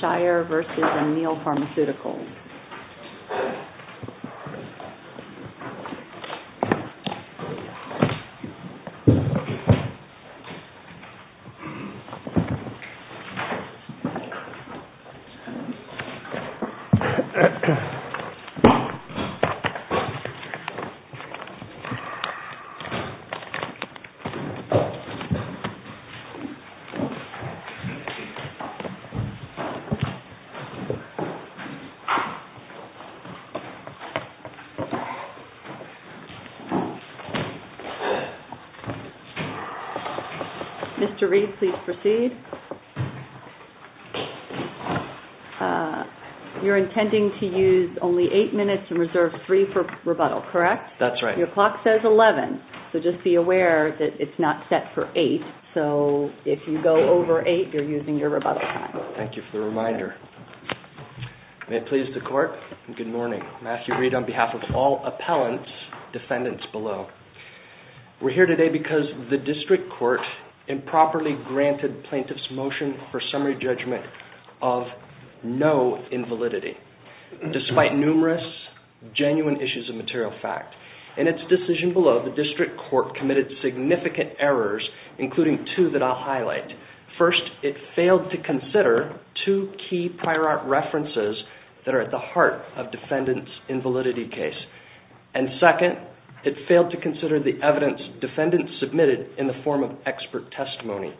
Shire v. Amneal Pharmaceuticals Mr. Reed, please proceed. You're intending to use only 8 minutes and reserve 3 for rebuttal, correct? That's right. Your clock says 11, so just be aware that it's not set for 8, so if you go over 8, you're in your rebuttal. Thank you for the reminder. May it please the Court, good morning. Matthew Reed on behalf of all appellants, defendants below. We're here today because the District Court improperly granted plaintiff's motion for summary judgment of no invalidity, despite numerous genuine issues of material fact. In its decision below, the District Court committed significant errors, including two that I'll highlight. First, it failed to consider two key prior art references that are at the heart of defendant's invalidity case. And second, it failed to consider the evidence defendants submitted in the form of expert testimony.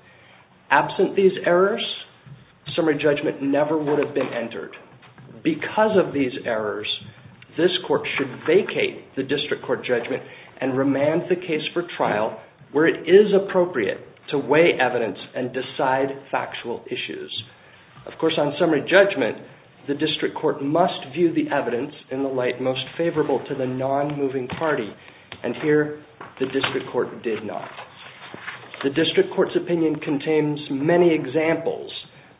Absent these errors, summary judgment never would have been entered. Because of these errors, this Court should weigh evidence and decide factual issues. Of course, on summary judgment, the District Court must view the evidence in the light most favorable to the non-moving party. And here, the District Court did not. The District Court's opinion contains many examples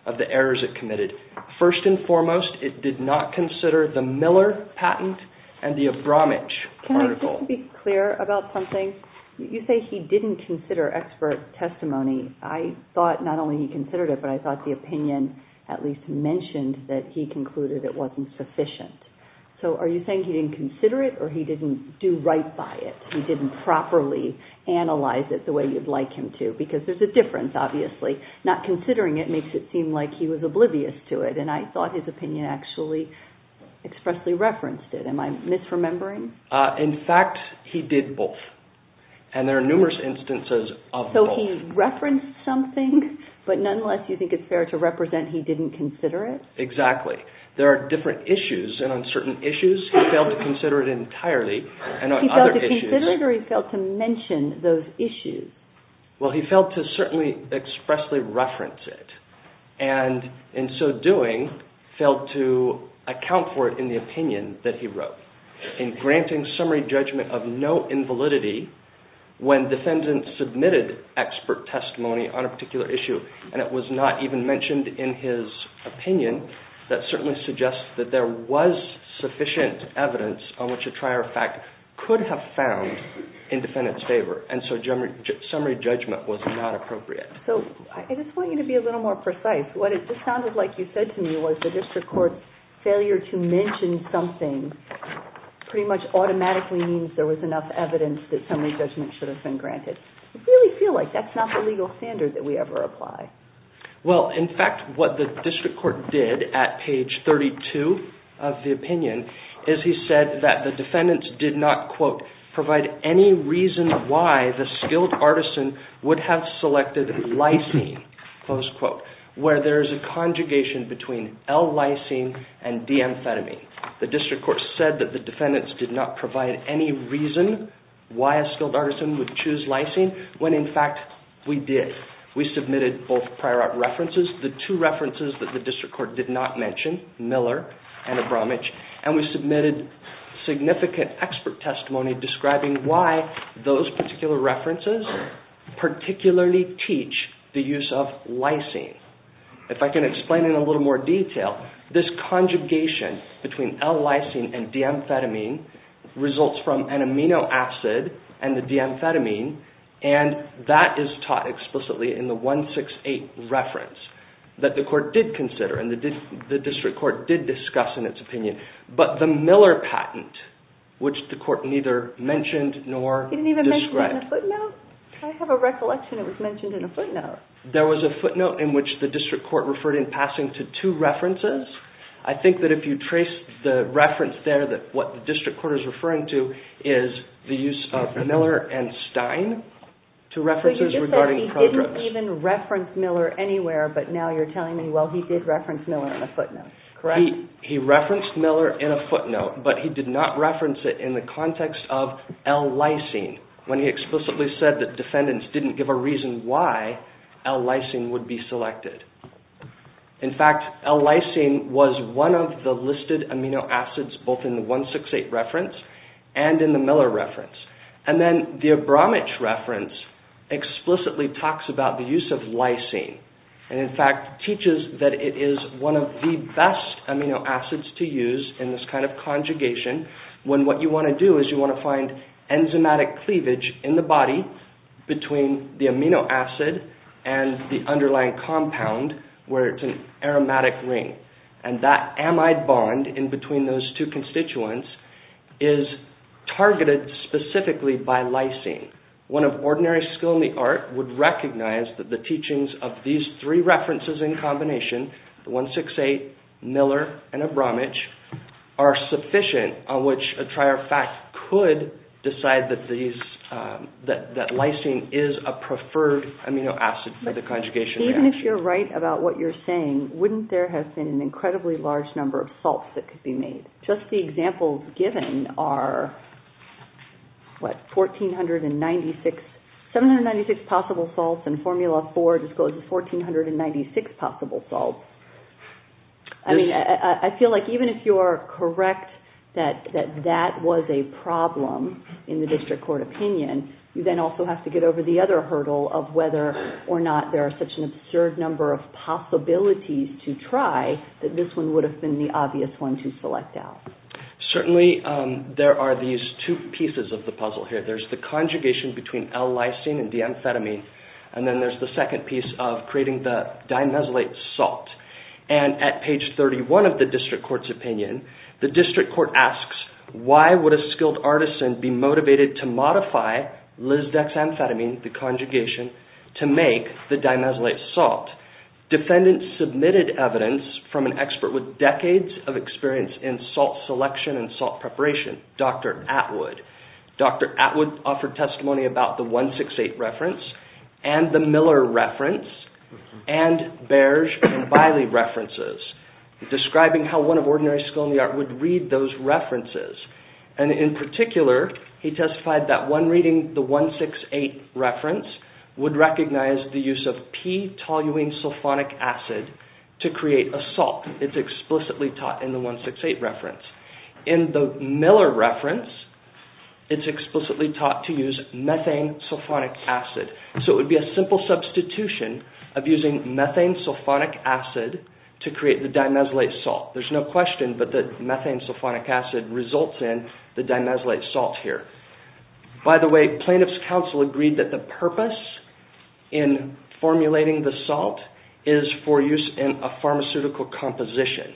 of the errors it committed. First and foremost, it did not consider the Miller patent and the Abramage article. Let me be clear about something. You say he didn't consider expert testimony. I thought not only he considered it, but I thought the opinion at least mentioned that he concluded it wasn't sufficient. So are you saying he didn't consider it, or he didn't do right by it? He didn't properly analyze it the way you'd like him to, because there's a difference, obviously. Not considering it makes it seem like he was oblivious to it, and I thought his opinion actually expressly referenced it. Am I misremembering? In fact, he did both. And there are numerous instances of both. So he referenced something, but nonetheless you think it's fair to represent he didn't consider it? Exactly. There are different issues, and on certain issues, he failed to consider it entirely. He failed to consider it, or he failed to mention those issues? Well he failed to certainly expressly reference it. And in so doing, failed to account for in the opinion that he wrote. In granting summary judgment of no invalidity, when defendants submitted expert testimony on a particular issue, and it was not even mentioned in his opinion, that certainly suggests that there was sufficient evidence on which a trier of fact could have found in defendant's favor. And so summary judgment was not appropriate. So I just want you to be a little more precise. What it just sounded like you said to me was the district court's failure to mention something pretty much automatically means there was enough evidence that summary judgment should have been granted. I really feel like that's not the legal standard that we ever apply. Well, in fact, what the district court did at page 32 of the opinion, is he said that the defendants did not, quote, provide any reason why the skilled artisan would have selected lysine, close quote, where there is a conjugation between L-lysine and D-amphetamine. The district court said that the defendants did not provide any reason why a skilled artisan would choose lysine, when in fact, we did. We submitted both prior art references, the two references that the district court did not mention, Miller and Abramich, and we submitted significant expert testimony describing why those particular references particularly teach the use of lysine. If I can explain in a little more detail, this conjugation between L-lysine and D-amphetamine results from an amino acid and the D-amphetamine, and that is taught explicitly in the 168 reference that the court did consider and the district court did discuss in its opinion, but the Miller patent, which the court neither mentioned nor described. There was a footnote in which the district court referred in passing to two references. I think that if you trace the reference there that what the district court is referring to is the use of Miller and Stein, two references regarding progress. They didn't even reference Miller anywhere, but now you're telling me, well, he did reference Miller in a footnote, correct? He referenced Miller in a footnote, but he did not reference it in the context of L-lysine, when he explicitly said that defendants didn't give a reason why L-lysine would be selected. In fact, L-lysine was one of the listed amino acids both in the 168 reference and in the Bromwich reference explicitly talks about the use of lysine, and in fact teaches that it is one of the best amino acids to use in this kind of conjugation when what you want to do is you want to find enzymatic cleavage in the body between the amino acid and the underlying compound where it's an aromatic ring, and that amide bond in between those two constituents is targeted specifically by lysine. One of ordinary skill in the art would recognize that the teachings of these three references in combination, the 168, Miller, and Bromwich, are sufficient on which a trier of fact could decide that lysine is a preferred amino acid for the conjugation reaction. Even if you're right about what you're saying, wouldn't there have been an incredibly large number of salts that could be made? Just the examples given are, what, 1,496 possible salts, and formula four discloses 1,496 possible salts. I mean, I feel like even if you are correct that that was a problem in the district court opinion, you then also have to get over the other hurdle of whether or not there are such an absurd number of possibilities to try that this one would have been the obvious one to select out. Certainly there are these two pieces of the puzzle here. There's the conjugation between L-lysine and D-amphetamine, and then there's the second piece of creating the dimesylate salt, and at page 31 of the district court's opinion, the district court asks, why would a skilled artisan be motivated to modify lisdexamphetamine, the conjugation, to make the dimesylate salt? Defendants submitted evidence from an expert with decades of experience in salt selection and salt preparation, Dr. Atwood. Dr. Atwood offered testimony about the 168 reference, and the Miller reference, and Bairge and Biley references, describing how one of ordinary skilled in the art would read those references. And in particular, he testified that one reading the 168 reference would recognize the use of P-toluene sulfonic acid to create a salt. It's explicitly taught in the 168 reference. In the Miller reference, it's explicitly taught to use methane sulfonic acid. So it would be a simple substitution of using methane sulfonic acid to create the dimesylate salt. There's no question, but that methane sulfonic acid results in the dimesylate salt here. By the way, plaintiff's counsel agreed that the purpose in formulating the salt is for use in a pharmaceutical composition.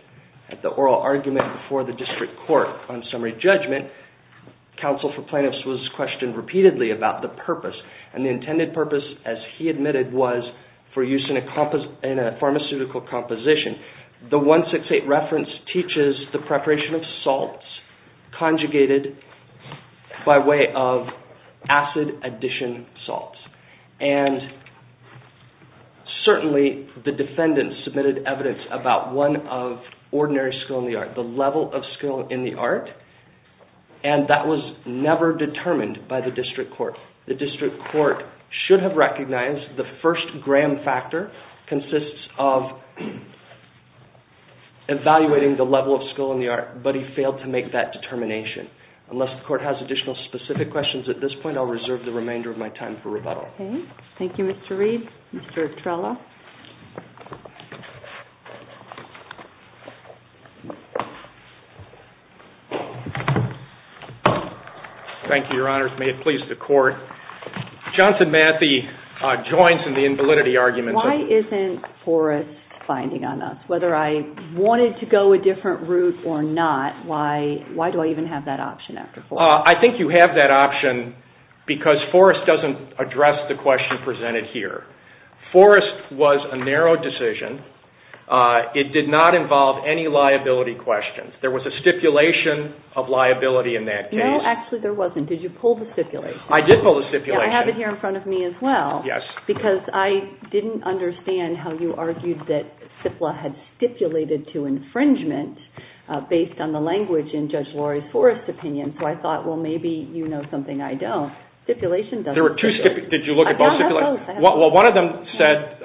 At the oral argument before the district court on summary judgment, counsel for plaintiffs was questioned repeatedly about the purpose. And the intended purpose, as he admitted, was for use in a pharmaceutical composition. The 168 reference teaches the preparation of salts conjugated by way of acid addition salts. And certainly, the defendant submitted evidence about one of ordinary skill in the art, the level of skill in the art, and that was never determined by the district court. The district court should have recognized the first gram factor consists of evaluating the level of skill in the art, but he failed to make that determination. Unless the court has additional specific questions at this point, I'll reserve the remainder of my time for rebuttal. Okay. Thank you, Mr. Reed. Mr. Trella? Thank you, Your Honors. May it please the court, Johnson Matthey joins in the invalidity argument. Why isn't Forrest finding on us? Whether I wanted to go a different route or not, why do I even have that option after Forrest? I think you have that option because Forrest doesn't address the question presented here. Forrest was a narrow decision. It did not involve any liability questions. There was a stipulation of liability in that case. No, actually, there wasn't. There was a stipulation. Did you pull the stipulation? I did pull the stipulation. I have it here in front of me as well. Yes. Because I didn't understand how you argued that CIPLA had stipulated to infringement based on the language in Judge Lori Forrest's opinion, so I thought, well, maybe you know something I don't. Stipulation doesn't work. There were two stipulations. Did you look at both stipulations? I thought both. Well, one of them said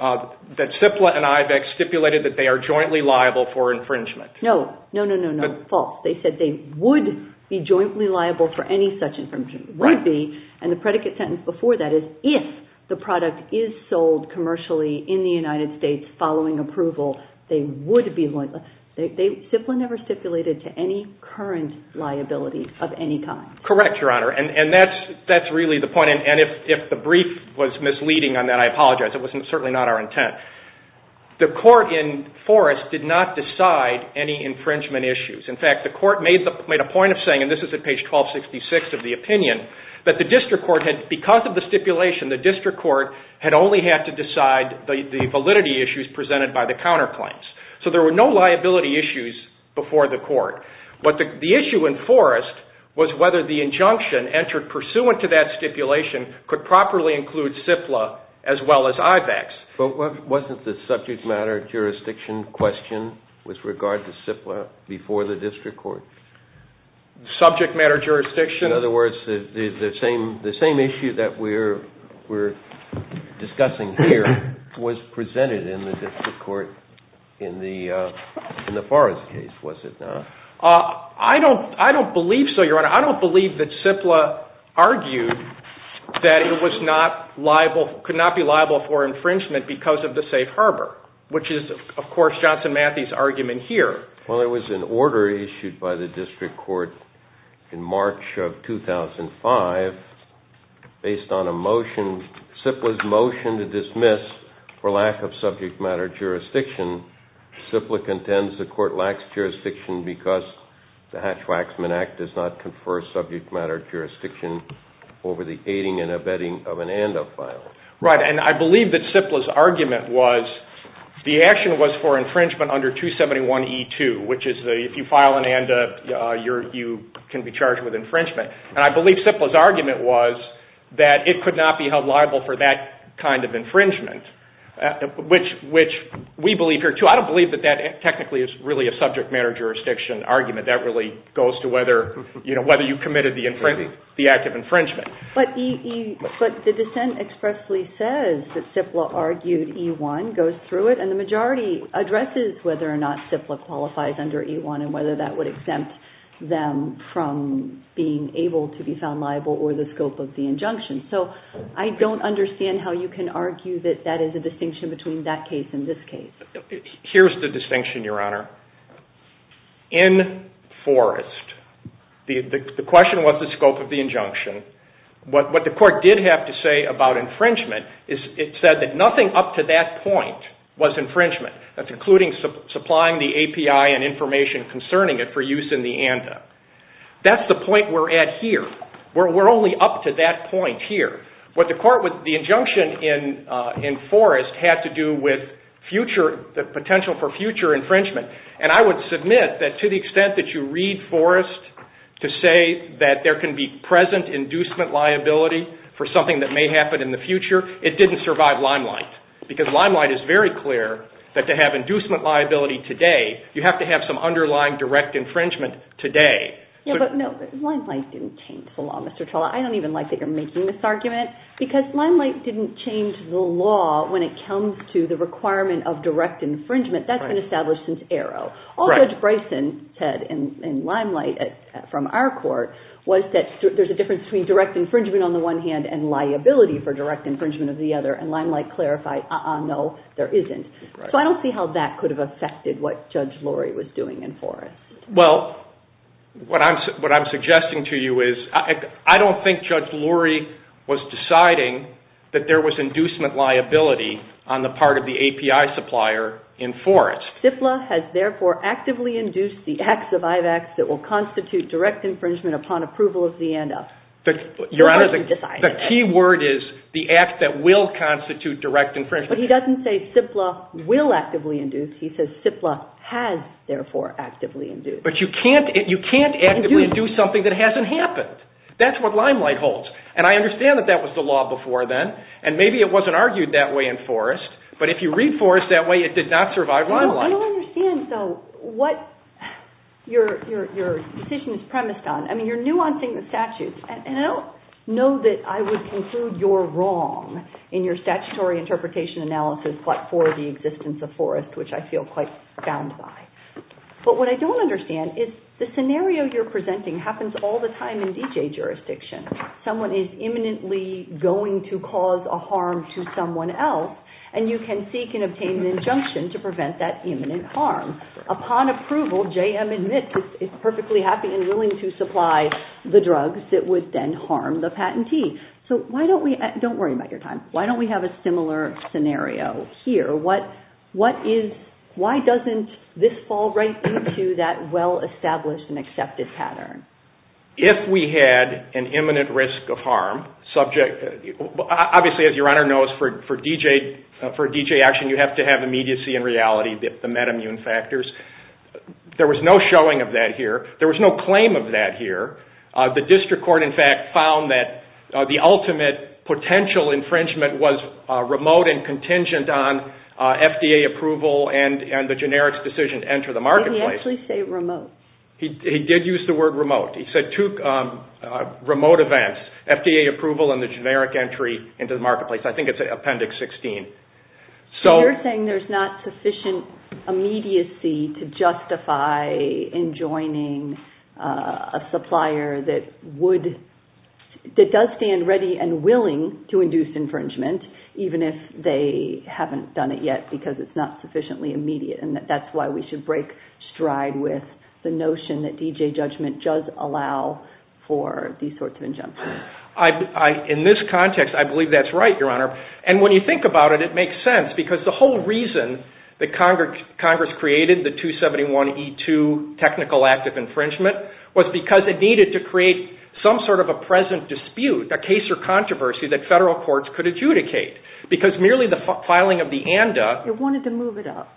that CIPLA and IBEX stipulated that they are jointly liable for infringement. No. No, no, no, no. False. They said they would be jointly liable for any such infringement. Right. Would be. And the predicate sentence before that is if the product is sold commercially in the United States following approval, they would be liable. CIPLA never stipulated to any current liability of any kind. Correct, Your Honor, and that's really the point, and if the brief was misleading on that, I apologize. It was certainly not our intent. The court in Forrest did not decide any infringement issues. In fact, the court made a point of saying, and this is at page 1266 of the opinion, that the district court had, because of the stipulation, the district court had only had to decide the validity issues presented by the counterclaims. So there were no liability issues before the court, but the issue in Forrest was whether the injunction entered pursuant to that stipulation could properly include CIPLA as well as IBEX. But wasn't the subject matter jurisdiction question with regard to CIPLA before the district court? Subject matter jurisdiction? In other words, the same issue that we're discussing here was presented in the district court in the Forrest case, was it not? I don't believe so, Your Honor. I don't believe that CIPLA argued that it was not liable, could not be liable for infringement because of the safe harbor, which is, of course, Johnson Matthey's argument here. Well, it was an order issued by the district court in March of 2005 based on a motion, CIPLA's motion to dismiss for lack of subject matter jurisdiction. CIPLA contends the court lacks jurisdiction because the Hatch-Waxman Act does not confer subject matter jurisdiction over the aiding and abetting of an ANDA file. Right. And I believe that CIPLA's argument was the action was for infringement under 271E2, which is if you file an ANDA, you can be charged with infringement. And I believe CIPLA's argument was that it could not be held liable for that kind of I don't believe that that technically is really a subject matter jurisdiction argument. That really goes to whether you committed the act of infringement. But the dissent expressly says that CIPLA argued E1 goes through it, and the majority addresses whether or not CIPLA qualifies under E1 and whether that would exempt them from being able to be found liable or the scope of the injunction. So I don't understand how you can argue that that is a distinction between that case and this case. Here's the distinction, Your Honor. In Forrest, the question was the scope of the injunction. What the court did have to say about infringement is it said that nothing up to that point was infringement. That's including supplying the API and information concerning it for use in the ANDA. That's the point we're at here. We're only up to that point here. What the court with the injunction in Forrest had to do with the potential for future infringement. And I would submit that to the extent that you read Forrest to say that there can be present inducement liability for something that may happen in the future, it didn't survive Limelight. Because Limelight is very clear that to have inducement liability today, you have to have some underlying direct infringement today. But, no, Limelight didn't change the law, Mr. Trolla. I don't even like that you're making this argument. Because Limelight didn't change the law when it comes to the requirement of direct infringement. That's been established since ARO. All Judge Bryson said in Limelight from our court was that there's a difference between direct infringement on the one hand and liability for direct infringement of the other. And Limelight clarified, uh-uh, no, there isn't. So I don't see how that could have affected what Judge Lurie was doing in Forrest. Well, what I'm suggesting to you is, I don't think Judge Lurie was deciding that there was inducement liability on the part of the API supplier in Forrest. CIPLA has therefore actively induced the acts of IVACs that will constitute direct infringement upon approval of the ANDA. Your Honor, the key word is the act that will constitute direct infringement. But he doesn't say CIPLA will actively induce. He says CIPLA has, therefore, actively induced. But you can't actively induce something that hasn't happened. That's what Limelight holds. And I understand that that was the law before then. And maybe it wasn't argued that way in Forrest. But if you read Forrest that way, it did not survive Limelight. I don't understand, though, what your decision is premised on. I mean, you're nuancing the statutes. And I don't know that I would conclude you're wrong in your statutory interpretation analysis for the existence of Forrest, which I feel quite bound by. But what I don't understand is the scenario you're presenting happens all the time in DJ jurisdiction. Someone is imminently going to cause a harm to someone else. And you can seek and obtain an injunction to prevent that imminent harm. Upon approval, JM admits it's perfectly happy and willing to supply the drugs that would then harm the patentee. So why don't we – don't worry about your time. Why don't we have a similar scenario here? What is – why doesn't this fall right into that well-established and accepted pattern? If we had an imminent risk of harm, subject – obviously, as your Honor knows, for DJ action, you have to have immediacy and reality, the metamune factors. There was no showing of that here. There was no claim of that here. The district court, in fact, found that the ultimate potential infringement was remote and contingent on FDA approval and the generic decision to enter the marketplace. Did he actually say remote? He did use the word remote. He said two remote events, FDA approval and the generic entry into the marketplace. I think it's Appendix 16. So you're saying there's not sufficient immediacy to justify enjoining a supplier that would – that does stand ready and willing to induce infringement, even if they haven't done it yet because it's not sufficiently immediate, and that's why we should break stride with the notion that DJ judgment does allow for these sorts of injunctions. In this context, I believe that's right, your Honor. And when you think about it, it makes sense because the whole reason that Congress created the 271E2 technical act of infringement was because it needed to create some sort of a present dispute, a case or controversy that federal courts could adjudicate because merely the filing of the ANDA – It wanted to move it up.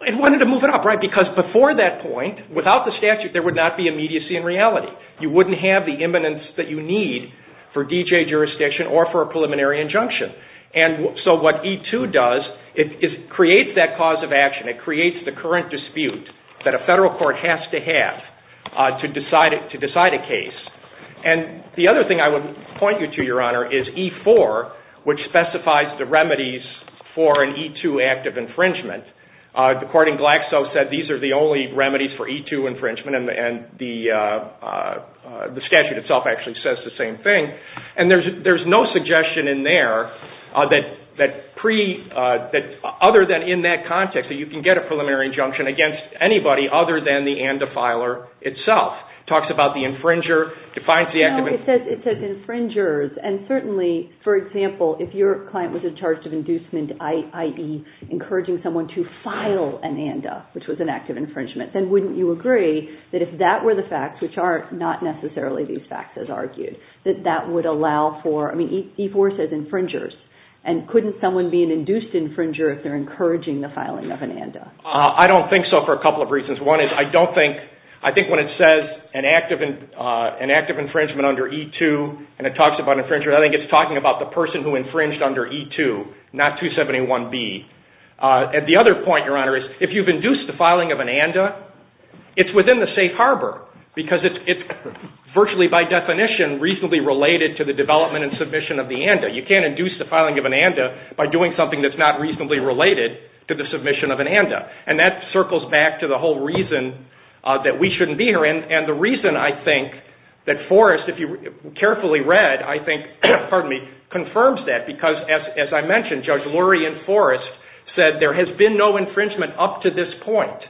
It wanted to move it up, right, because before that point, without the statute, there would not be immediacy and reality. You wouldn't have the imminence that you need for DJ jurisdiction or for a preliminary injunction. And so what E2 does, it creates that cause of action. It creates the current dispute that a federal court has to have to decide a case. And the other thing I would point you to, your Honor, is E4, which specifies the remedies for an E2 act of infringement. The court in Glaxo said these are the only remedies for E2 infringement, and the statute itself actually says the same thing. And there's no suggestion in there that, other than in that context, that you can get a preliminary injunction against anybody other than the ANDA filer itself. It talks about the infringer, defines the act of – No, it says infringers. And certainly, for example, if your client was in charge of inducement, i.e. encouraging someone to file an ANDA, which was an act of infringement, then wouldn't you agree that if that were the facts, which are not necessarily these facts as argued, that that would allow for – I mean, E4 says infringers. And couldn't someone be an induced infringer if they're encouraging the filing of an ANDA? I don't think so for a couple of reasons. One is I don't think – I think when it says an act of infringement under E2 and it talks about infringers, I think it's talking about the person who infringed under E2, not 271B. And the other point, Your Honor, is if you've induced the filing of an ANDA, it's within the safe harbor because it's virtually, by definition, reasonably related to the development and submission of the ANDA. You can't induce the filing of an ANDA by doing something that's not reasonably related to the submission of an ANDA. And that circles back to the whole reason that we shouldn't be here. And the reason, I think, that Forrest, if you carefully read, I think confirms that because, as I mentioned, Judge Lurie and Forrest said there has been no infringement up to this point.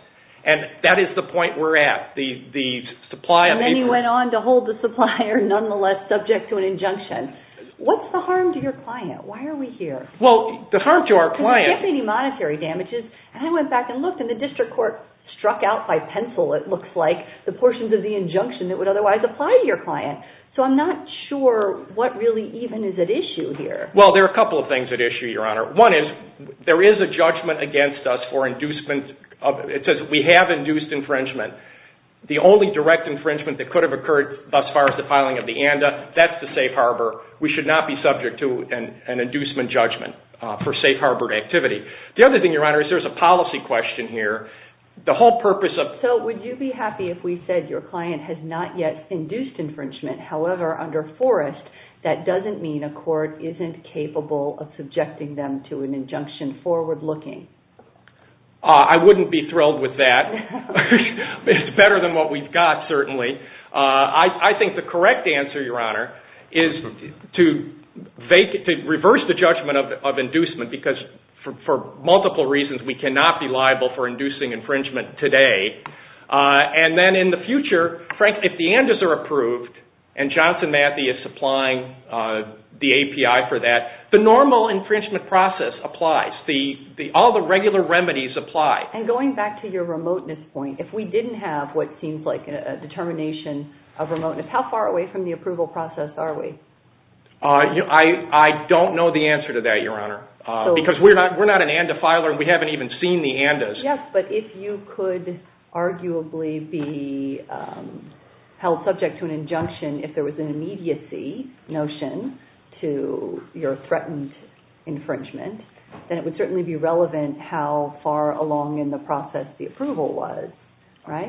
And that is the point we're at. The supply of the people – And then he went on to hold the supplier nonetheless subject to an injunction. What's the harm to your client? Why are we here? Well, the harm to our client – Because there can't be any monetary damages. And I went back and looked and the district court struck out by pencil, it looks like, the portions of the injunction that would otherwise apply to your client. So I'm not sure what really even is at issue here. Well, there are a couple of things at issue, Your Honor. One is, there is a judgment against us for inducement of – it says we have induced infringement. The only direct infringement that could have occurred thus far as the filing of the ANDA, that's the safe harbor. We should not be subject to an inducement judgment for safe harbor activity. The other thing, Your Honor, is there's a policy question here. The whole purpose of – So would you be happy if we said your client has not yet induced infringement, however under Forrest, that doesn't mean a court isn't capable of subjecting them to an injunction forward-looking? I wouldn't be thrilled with that. It's better than what we've got, certainly. I think the correct answer, Your Honor, is to reverse the judgment of inducement because for multiple reasons we cannot be liable for inducing infringement today. And then in the future, if the ANDAs are approved and Johnson Matthey is supplying the API for that, the normal infringement process applies. All the regular remedies apply. And going back to your remoteness point, if we didn't have what seems like a determination of remoteness, how far away from the approval process are we? I don't know the answer to that, Your Honor, because we're not an ANDA filer and we haven't even seen the ANDAs. Yes, but if you could arguably be held subject to an injunction if there was an immediacy notion to your threatened infringement, then it would certainly be relevant how far along in the process the approval was, right?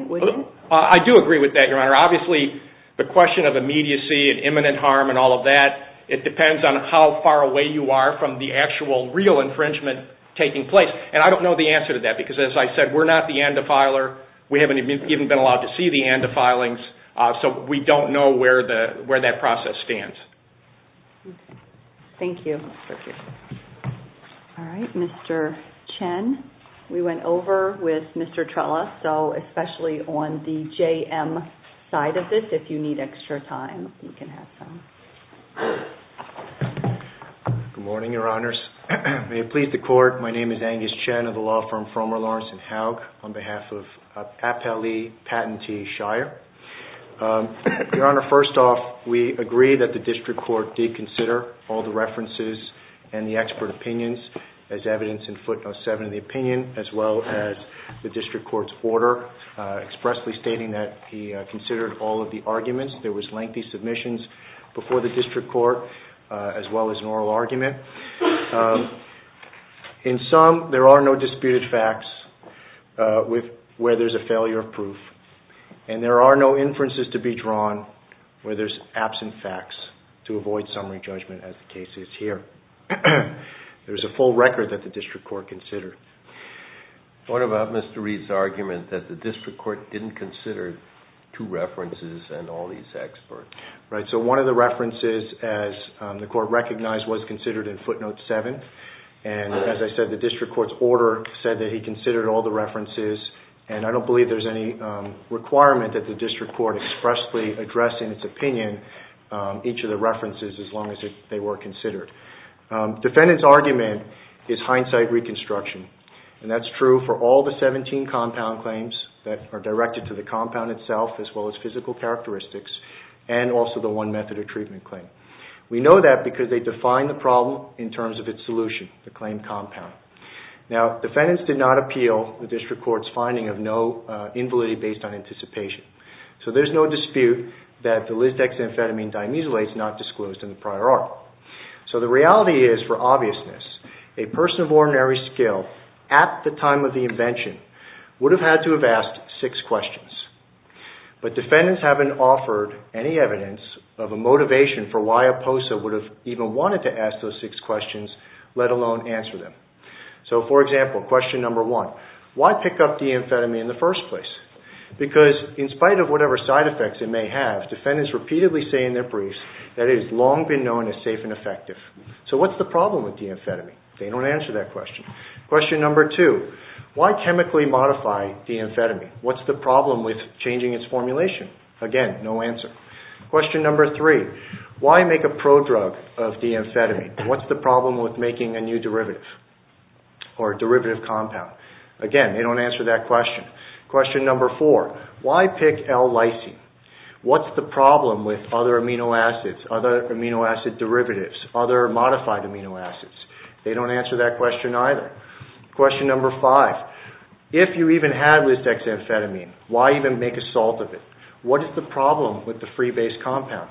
I do agree with that, Your Honor. Obviously, the question of immediacy and imminent harm and all of that, it depends on how far away you are from the actual real infringement taking place. I don't know the answer to that because, as I said, we're not the ANDA filer. We haven't even been allowed to see the ANDA filings, so we don't know where that process stands. Thank you. All right. Mr. Chen, we went over with Mr. Trella, so especially on the JM side of this, if you need extra time, you can have some. Good morning, Your Honors. May it please the Court. My name is Angus Chen of the law firm Frommer Lawrence & Haug on behalf of Appellee Patentee Shire. Your Honor, first off, we agree that the District Court did consider all the references and the expert opinions as evidence in footnote 7 of the opinion as well as the District Court's order expressly stating that he considered all of the arguments. There was lengthy submissions before the District Court as well as an oral argument. In sum, there are no disputed facts where there's a failure of proof, and there are no inferences to be drawn where there's absent facts to avoid summary judgment as the case is here. There is a full record that the District Court considered. I thought about Mr. Reed's argument that the District Court didn't consider two references and all these experts. Right. So one of the references, as the Court recognized, was considered in footnote 7, and as I said, the District Court's order said that he considered all the references, and I don't believe there's any requirement that the District Court expressly address in its opinion each of the references as long as they were considered. Defendant's argument is hindsight reconstruction, and that's true for all the 17 compound claims that are directed to the compound itself as well as physical characteristics and also the one method of treatment claim. We know that because they define the problem in terms of its solution, the claim compound. Now defendants did not appeal the District Court's finding of no invalidity based on anticipation, so there's no dispute that the lisdexamphetamine dimuselase is not disclosed in the prior article. So the reality is, for obviousness, a person of ordinary skill at the time of the invention would have had to have asked six questions. But defendants haven't offered any evidence of a motivation for why a POSA would have even wanted to ask those six questions, let alone answer them. So for example, question number one, why pick up deamphetamine in the first place? Because in spite of whatever side effects it may have, defendants repeatedly say in their briefs that it has long been known as safe and effective. So what's the problem with deamphetamine? They don't answer that question. Question number two, why chemically modify deamphetamine? What's the problem with changing its formulation? Again, no answer. Question number three, why make a prodrug of deamphetamine? What's the problem with making a new derivative or derivative compound? Again, they don't answer that question. Question number four, why pick L-lysine? What's the problem with other amino acids, other amino acid derivatives, other modified amino acids? They don't answer that question either. Question number five, if you even had Lysdexamphetamine, why even make a salt of it? What is the problem with the free base compound?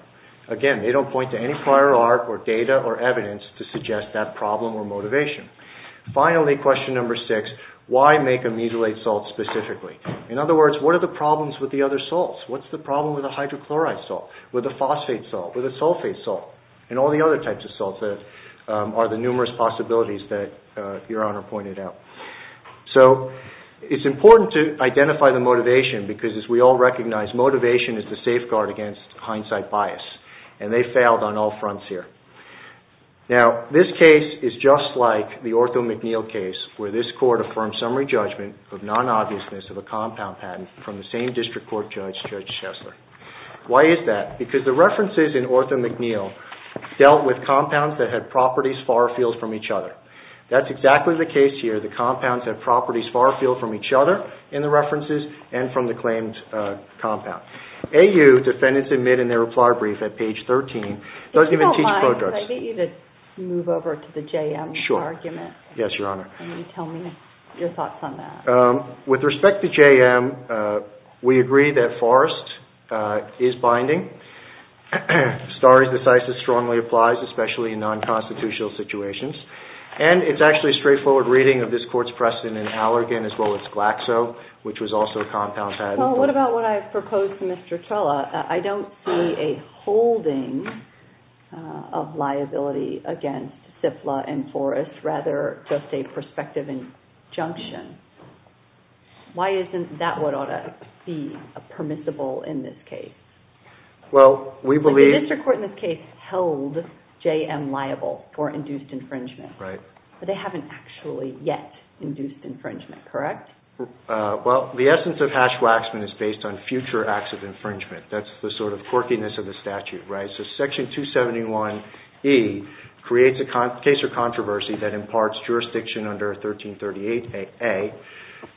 Again, they don't point to any prior art or data or evidence to suggest that problem or motivation. Finally, question number six, why make a mesylate salt specifically? In other words, what are the problems with the other salts? What's the problem with a hydrochloride salt, with a phosphate salt, with a sulfate salt, and all the other types of salts that are the numerous possibilities that Your Honor pointed out? It's important to identify the motivation because, as we all recognize, motivation is the safeguard against hindsight bias, and they failed on all fronts here. This case is just like the Ortho McNeil case, where this court affirmed summary judgment of non-obviousness of a compound patent from the same district court judge, Judge Shessler. Why is that? Because the references in Ortho McNeil dealt with compounds that had properties far afield from each other. That's exactly the case here. The compounds have properties far afield from each other in the references and from the claimed compound. AU, defendants admit in their reply brief at page 13, doesn't even teach pro-drugs. If you don't mind, could I get you to move over to the JM argument? Sure. Yes, Your Honor. Can you tell me your thoughts on that? With respect to JM, we agree that Forrest is binding. Star is decisive, strongly applies, especially in non-constitutional situations. And it's actually a straightforward reading of this court's precedent in Allergan as well as Glaxo, which was also a compound patent. Well, what about what I proposed to Mr. Trella? I don't see a holding of liability against Cifla and Forrest, rather just a prospective injunction. Why isn't that what ought to be permissible in this case? Well, we believe... The district court in this case held JM liable for induced infringement. Right. But they haven't actually yet induced infringement, correct? Well, the essence of hash-waxman is based on future acts of infringement. That's the sort of quirkiness of the statute, right? So Section 271E creates a case of controversy that imparts jurisdiction under 1338A.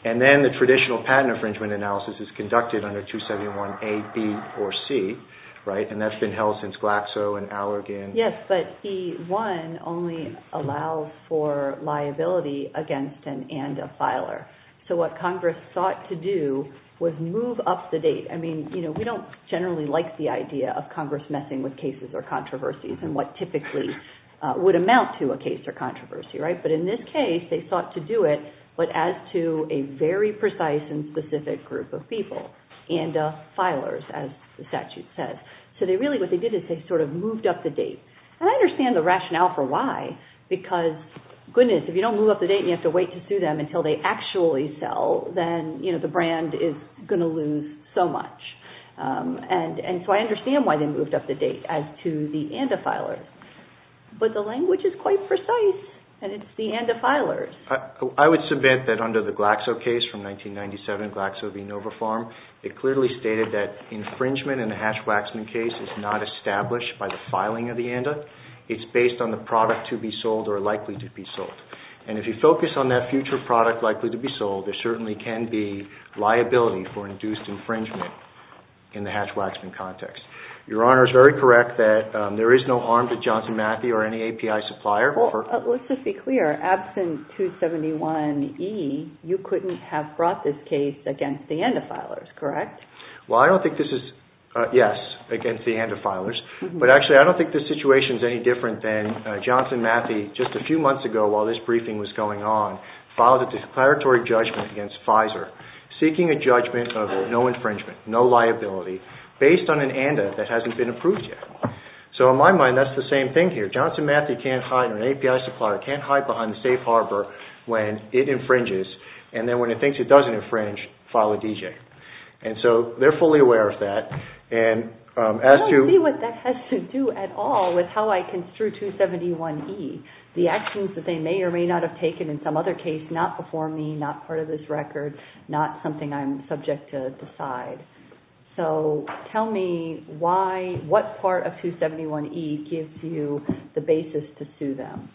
And then the traditional patent infringement analysis is conducted under 271A, B, or C, right? And that's been held since Glaxo and Allergan. Yes, but E1 only allows for liability against an and a filer. So what Congress sought to do was move up the date. I mean, we don't generally like the idea of Congress messing with cases or controversies and what typically would amount to a case or controversy, right? But in this case, they sought to do it, but as to a very precise and specific group of people, and filers, as the statute says. So they really... What they did is they sort of moved up the date. And I understand the rationale for why, because, goodness, if you don't move up the date and you have to wait to sue them until they actually sell, then the brand is going to lose so much. And so I understand why they moved up the date as to the and a filers. But the language is quite precise, and it's the and a filers. I would submit that under the Glaxo case from 1997, Glaxo v. Nova Farm, it clearly stated that infringement in the Hash-Waxman case is not established by the filing of the and a. It's based on the product to be sold or likely to be sold. And if you focus on that future product likely to be sold, there certainly can be liability for induced infringement in the Hash-Waxman context. Your Honor is very correct that there is no arm to Johnson Matthey or any API supplier. Well, let's just be clear, absent 271E, you couldn't have brought this case against the and a filers, correct? Well, I don't think this is, yes, against the and a filers, but actually I don't think this situation is any different than Johnson Matthey, just a few months ago while this briefing was going on, filed a declaratory judgment against Pfizer. Seeking a judgment of no infringement, no liability based on an and a that hasn't been approved yet. So in my mind, that's the same thing here. Johnson Matthey can't hide or an API supplier can't hide behind the safe harbor when it infringes. And then when it thinks it doesn't infringe, file a DJ. And so they're fully aware of that. And as you see what that has to do at all with how I construe 271E, the actions that they may or may not have taken in some other case, not before me, not part of this record, not something I'm subject to decide. So tell me why, what part of 271E gives you the basis to sue them?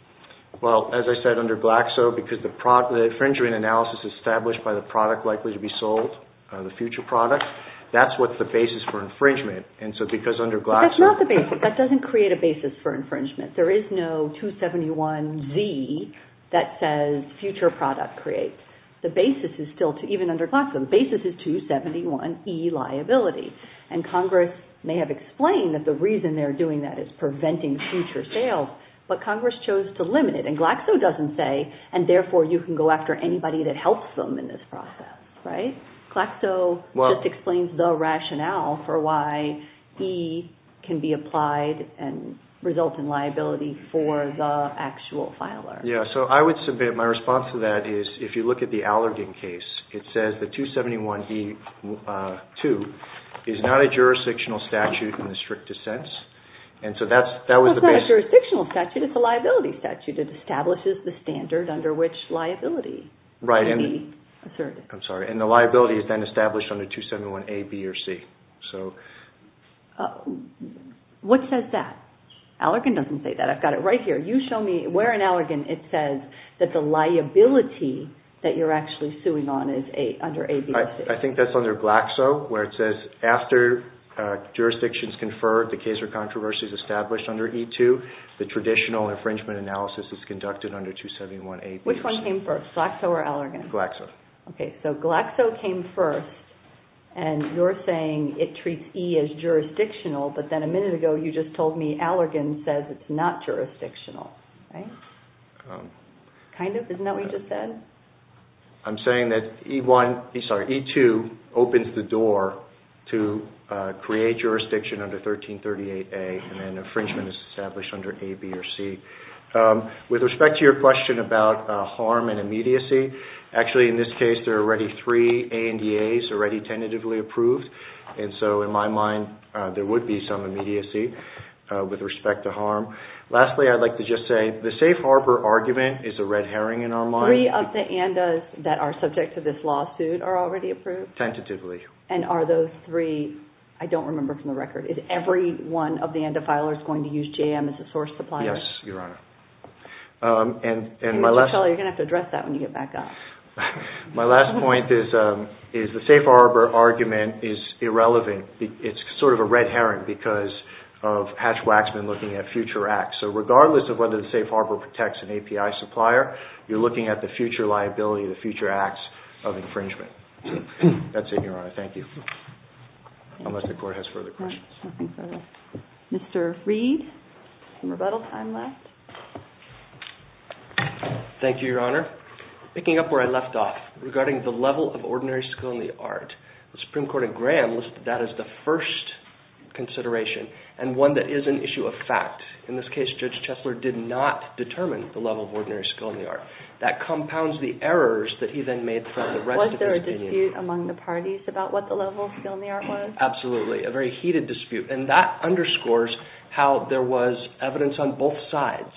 Well, as I said, under Glaxo, because the infringement analysis established by the product likely to be sold, the future product, that's what the basis for infringement. And so because under Glaxo... That's not the basis. That doesn't create a basis for infringement. There is no 271Z that says future product creates. The basis is still, even under Glaxo, the basis is 271E liability. And Congress may have explained that the reason they're doing that is preventing future sales, but Congress chose to limit it. And Glaxo doesn't say, and therefore you can go after anybody that helps them in this process. Right? Glaxo just explains the rationale for why E can be applied and result in liability for the actual filer. Yeah. So I would submit my response to that is if you look at the Allergan case, it says the 271E-2 is not a jurisdictional statute in the strictest sense. And so that was the basis. It's not a jurisdictional statute, it's a liability statute. It establishes the standard under which liability can be asserted. I'm sorry. And the liability is then established under 271A, B or C. So what says that? Allergan doesn't say that. I've got it right here. You show me where in Allergan it says that the liability that you're actually suing on is under A, B or C. I think that's under Glaxo, where it says after jurisdiction is conferred, the case or controversy is established under E-2, the traditional infringement analysis is conducted under 271A, B or C. Which one came first, Glaxo or Allergan? Glaxo. OK. So Glaxo came first and you're saying it treats E as jurisdictional, but then a jurisdictional, right? Kind of, isn't that what you just said? I'm saying that E-2 opens the door to create jurisdiction under 1338A and then infringement is established under A, B or C. With respect to your question about harm and immediacy, actually in this case there are already three ANDAs already tentatively approved. And so in my mind there would be some immediacy with respect to harm. Lastly, I'd like to just say the Safe Harbor argument is a red herring in our mind. Three of the ANDAs that are subject to this lawsuit are already approved? Tentatively. And are those three, I don't remember from the record, is every one of the ANDA filers going to use JM as a source supplier? Yes, Your Honor. And my last... You're going to have to address that when you get back up. My last point is the Safe Harbor argument is irrelevant. It's sort of a red herring because of Hatch-Waxman looking at future acts. So regardless of whether the Safe Harbor protects an API supplier, you're looking at the future liability, the future acts of infringement. That's it, Your Honor. Thank you. Unless the Court has further questions. Mr. Reed, some rebuttal time left. Thank you, Your Honor. Picking up where I left off, regarding the level of ordinary skill in the art, the first consideration, and one that is an issue of fact, in this case, Judge Chesler did not determine the level of ordinary skill in the art. That compounds the errors that he then made from the rest of his opinion. Was there a dispute among the parties about what the level of skill in the art was? Absolutely. A very heated dispute. And that underscores how there was evidence on both sides.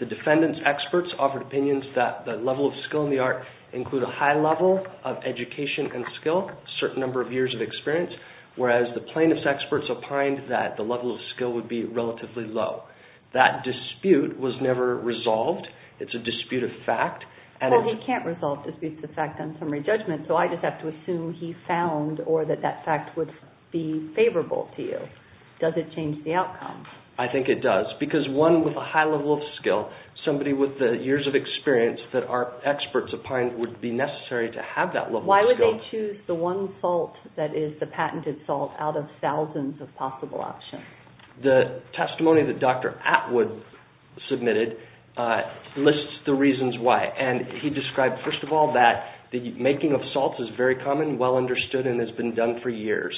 The defendant's experts offered opinions that the level of skill in the art include a high level of education and skill, a certain number of years of experience, whereas the plaintiff's experts opined that the level of skill would be relatively low. That dispute was never resolved. It's a dispute of fact. Well, we can't resolve disputes of fact on summary judgment, so I just have to assume he found or that that fact would be favorable to you. Does it change the outcome? I think it does. Because one with a high level of skill, somebody with the years of experience that our experts opined would be necessary to have that level of skill. Why would they choose the one salt that is the patented salt out of thousands of possible options? The testimony that Dr. Atwood submitted lists the reasons why. And he described, first of all, that the making of salts is very common, well understood, and has been done for years.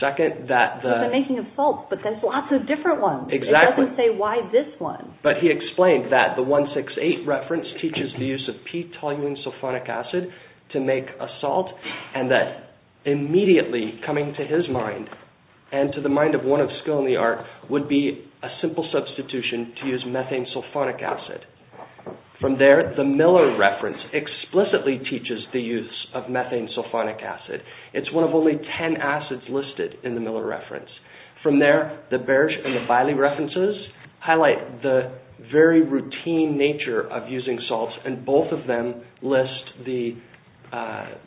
There's a making of salts, but there's lots of different ones. It doesn't say why this one. But he explained that the 168 reference teaches the use of P-toluene sulfonic acid to make a salt and that immediately coming to his mind and to the mind of one of skill in the art would be a simple substitution to use methane sulfonic acid. From there, the Miller reference explicitly teaches the use of methane sulfonic acid. It's one of only 10 acids listed in the Miller reference. From there, the Berge and the Biley references highlight the very routine nature of using salts and both of them list the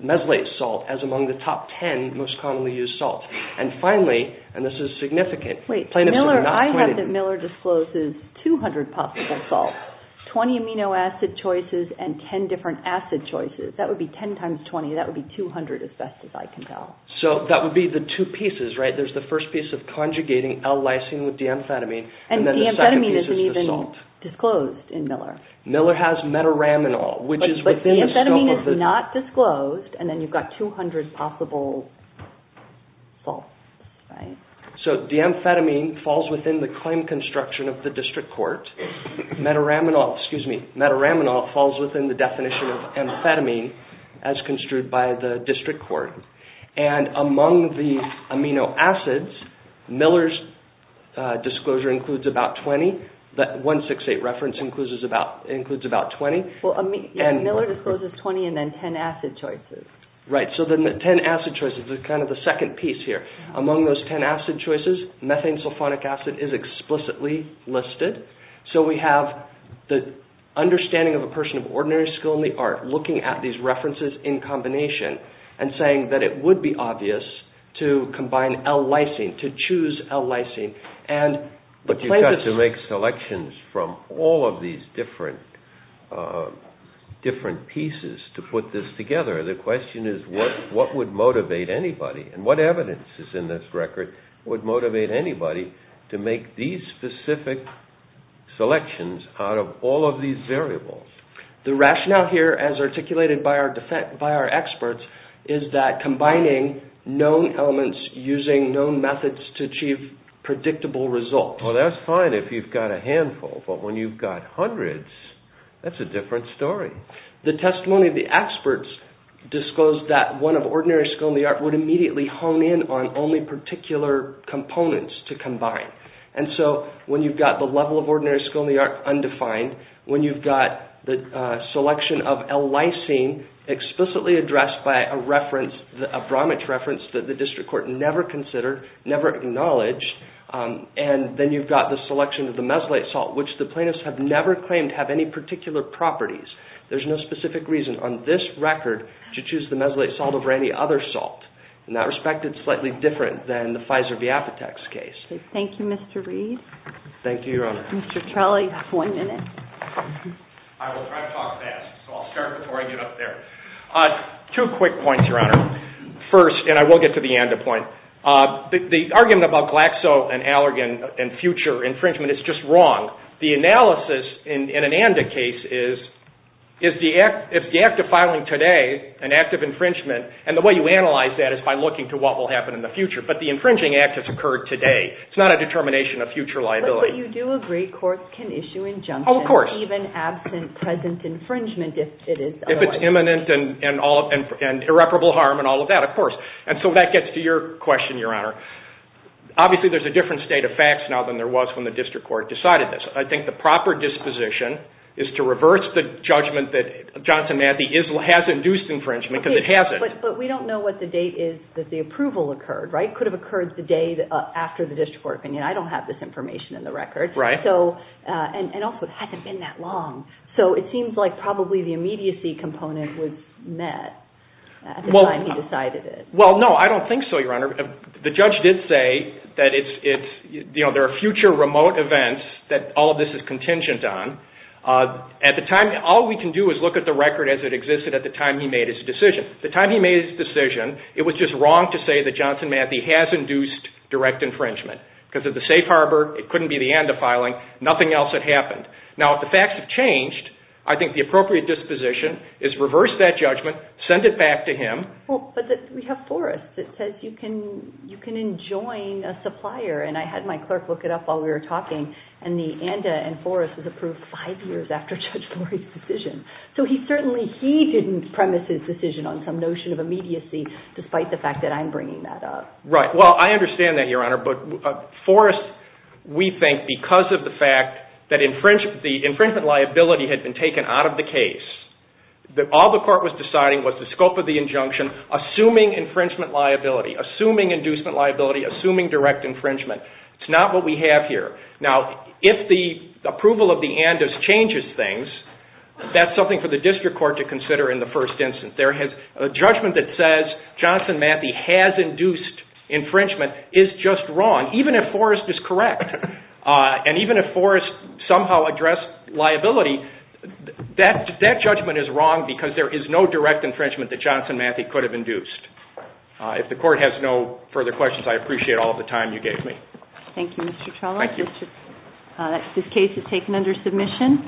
meslate salt as among the top 10 most commonly used salts. And finally, and this is significant, plaintiffs are not appointed. I have that Miller discloses 200 possible salts, 20 amino acid choices and 10 different acid choices. That would be 10 times 20. That would be 200, as best as I can tell. So that would be the two pieces, right? There's the first piece of conjugating L-lysine with D-amphetamine and then the second piece And D-amphetamine isn't even disclosed in Miller. Miller has metaraminol, which is within the scope of the... But D-amphetamine is not disclosed and then you've got 200 possible salts, right? So D-amphetamine falls within the claim construction of the district court. Metaraminol, excuse me, metaraminol falls within the definition of amphetamine as construed by the district court. And among the amino acids, Miller's disclosure includes about 20. That 168 reference includes about 20. Well, Miller discloses 20 and then 10 acid choices. Right. So then the 10 acid choices is kind of the second piece here. Among those 10 acid choices, methanesulfonic acid is explicitly listed. So we have the understanding of a person of ordinary skill in the art looking at these that it would be obvious to combine L-lysine, to choose L-lysine. And the plaintiff's... But you've got to make selections from all of these different pieces to put this together. The question is what would motivate anybody and what evidence is in this record would motivate anybody to make these specific selections out of all of these variables? The rationale here, as articulated by our experts, is that combining known elements using known methods to achieve predictable results. Well, that's fine if you've got a handful, but when you've got hundreds, that's a different story. The testimony of the experts disclosed that one of ordinary skill in the art would immediately hone in on only particular components to combine. And so when you've got the level of ordinary skill in the art undefined, when you've got the selection of L-lysine explicitly addressed by a reference, a Bromwich reference that the district court never considered, never acknowledged, and then you've got the selection of the mesylate salt, which the plaintiffs have never claimed have any particular properties. There's no specific reason on this record to choose the mesylate salt over any other salt. In that respect, it's slightly different than the Pfizer-Viapatex case. Thank you, Mr. Reed. Thank you, Your Honor. Mr. Trelley, you have one minute. I will try to talk fast, so I'll start before I get up there. Two quick points, Your Honor, first, and I will get to the ANDA point. The argument about Glaxo and Allergan and future infringement is just wrong. The analysis in an ANDA case is, is the act of filing today an act of infringement, and the way you analyze that is by looking to what will happen in the future, but the infringing act has occurred today. It's not a determination of future liability. But you do agree courts can issue injunctions even absent present infringement if it is otherwise. If it's imminent and irreparable harm and all of that, of course. And so that gets to your question, Your Honor. Obviously, there's a different state of facts now than there was when the district court decided this. I think the proper disposition is to reverse the judgment that Johnson Mathey has induced infringement because it hasn't. But we don't know what the date is that the approval occurred, right? The date after the district court opinion. I don't have this information in the record, and also it hasn't been that long. So it seems like probably the immediacy component was met at the time he decided it. Well, no, I don't think so, Your Honor. The judge did say that there are future remote events that all of this is contingent on. At the time, all we can do is look at the record as it existed at the time he made his decision. The time he made his decision, it was just wrong to say that Johnson Mathey has induced direct infringement. Because of the safe harbor, it couldn't be the ANDA filing. Nothing else had happened. Now, if the facts have changed, I think the appropriate disposition is reverse that judgment, send it back to him. Well, but we have Forrest that says you can enjoin a supplier, and I had my clerk look it up while we were talking, and the ANDA and Forrest was approved five years after Judge Florey's decision. So certainly he didn't premise his decision on some notion of immediacy, despite the fact that I'm bringing that up. Right. Well, I understand that, Your Honor, but Forrest, we think because of the fact that the infringement liability had been taken out of the case, that all the court was deciding was the scope of the injunction, assuming infringement liability, assuming inducement liability, assuming direct infringement. It's not what we have here. Now, if the approval of the ANDA changes things, that's something for the district court to consider in the first instance. There is a judgment that says Johnson Matthey has induced infringement is just wrong, even if Forrest is correct. And even if Forrest somehow addressed liability, that judgment is wrong because there is no direct infringement that Johnson Matthey could have induced. If the court has no further questions, I appreciate all of the time you gave me. Thank you, Mr. Chalmers. Thank you. Thank you. This case is taken under submission.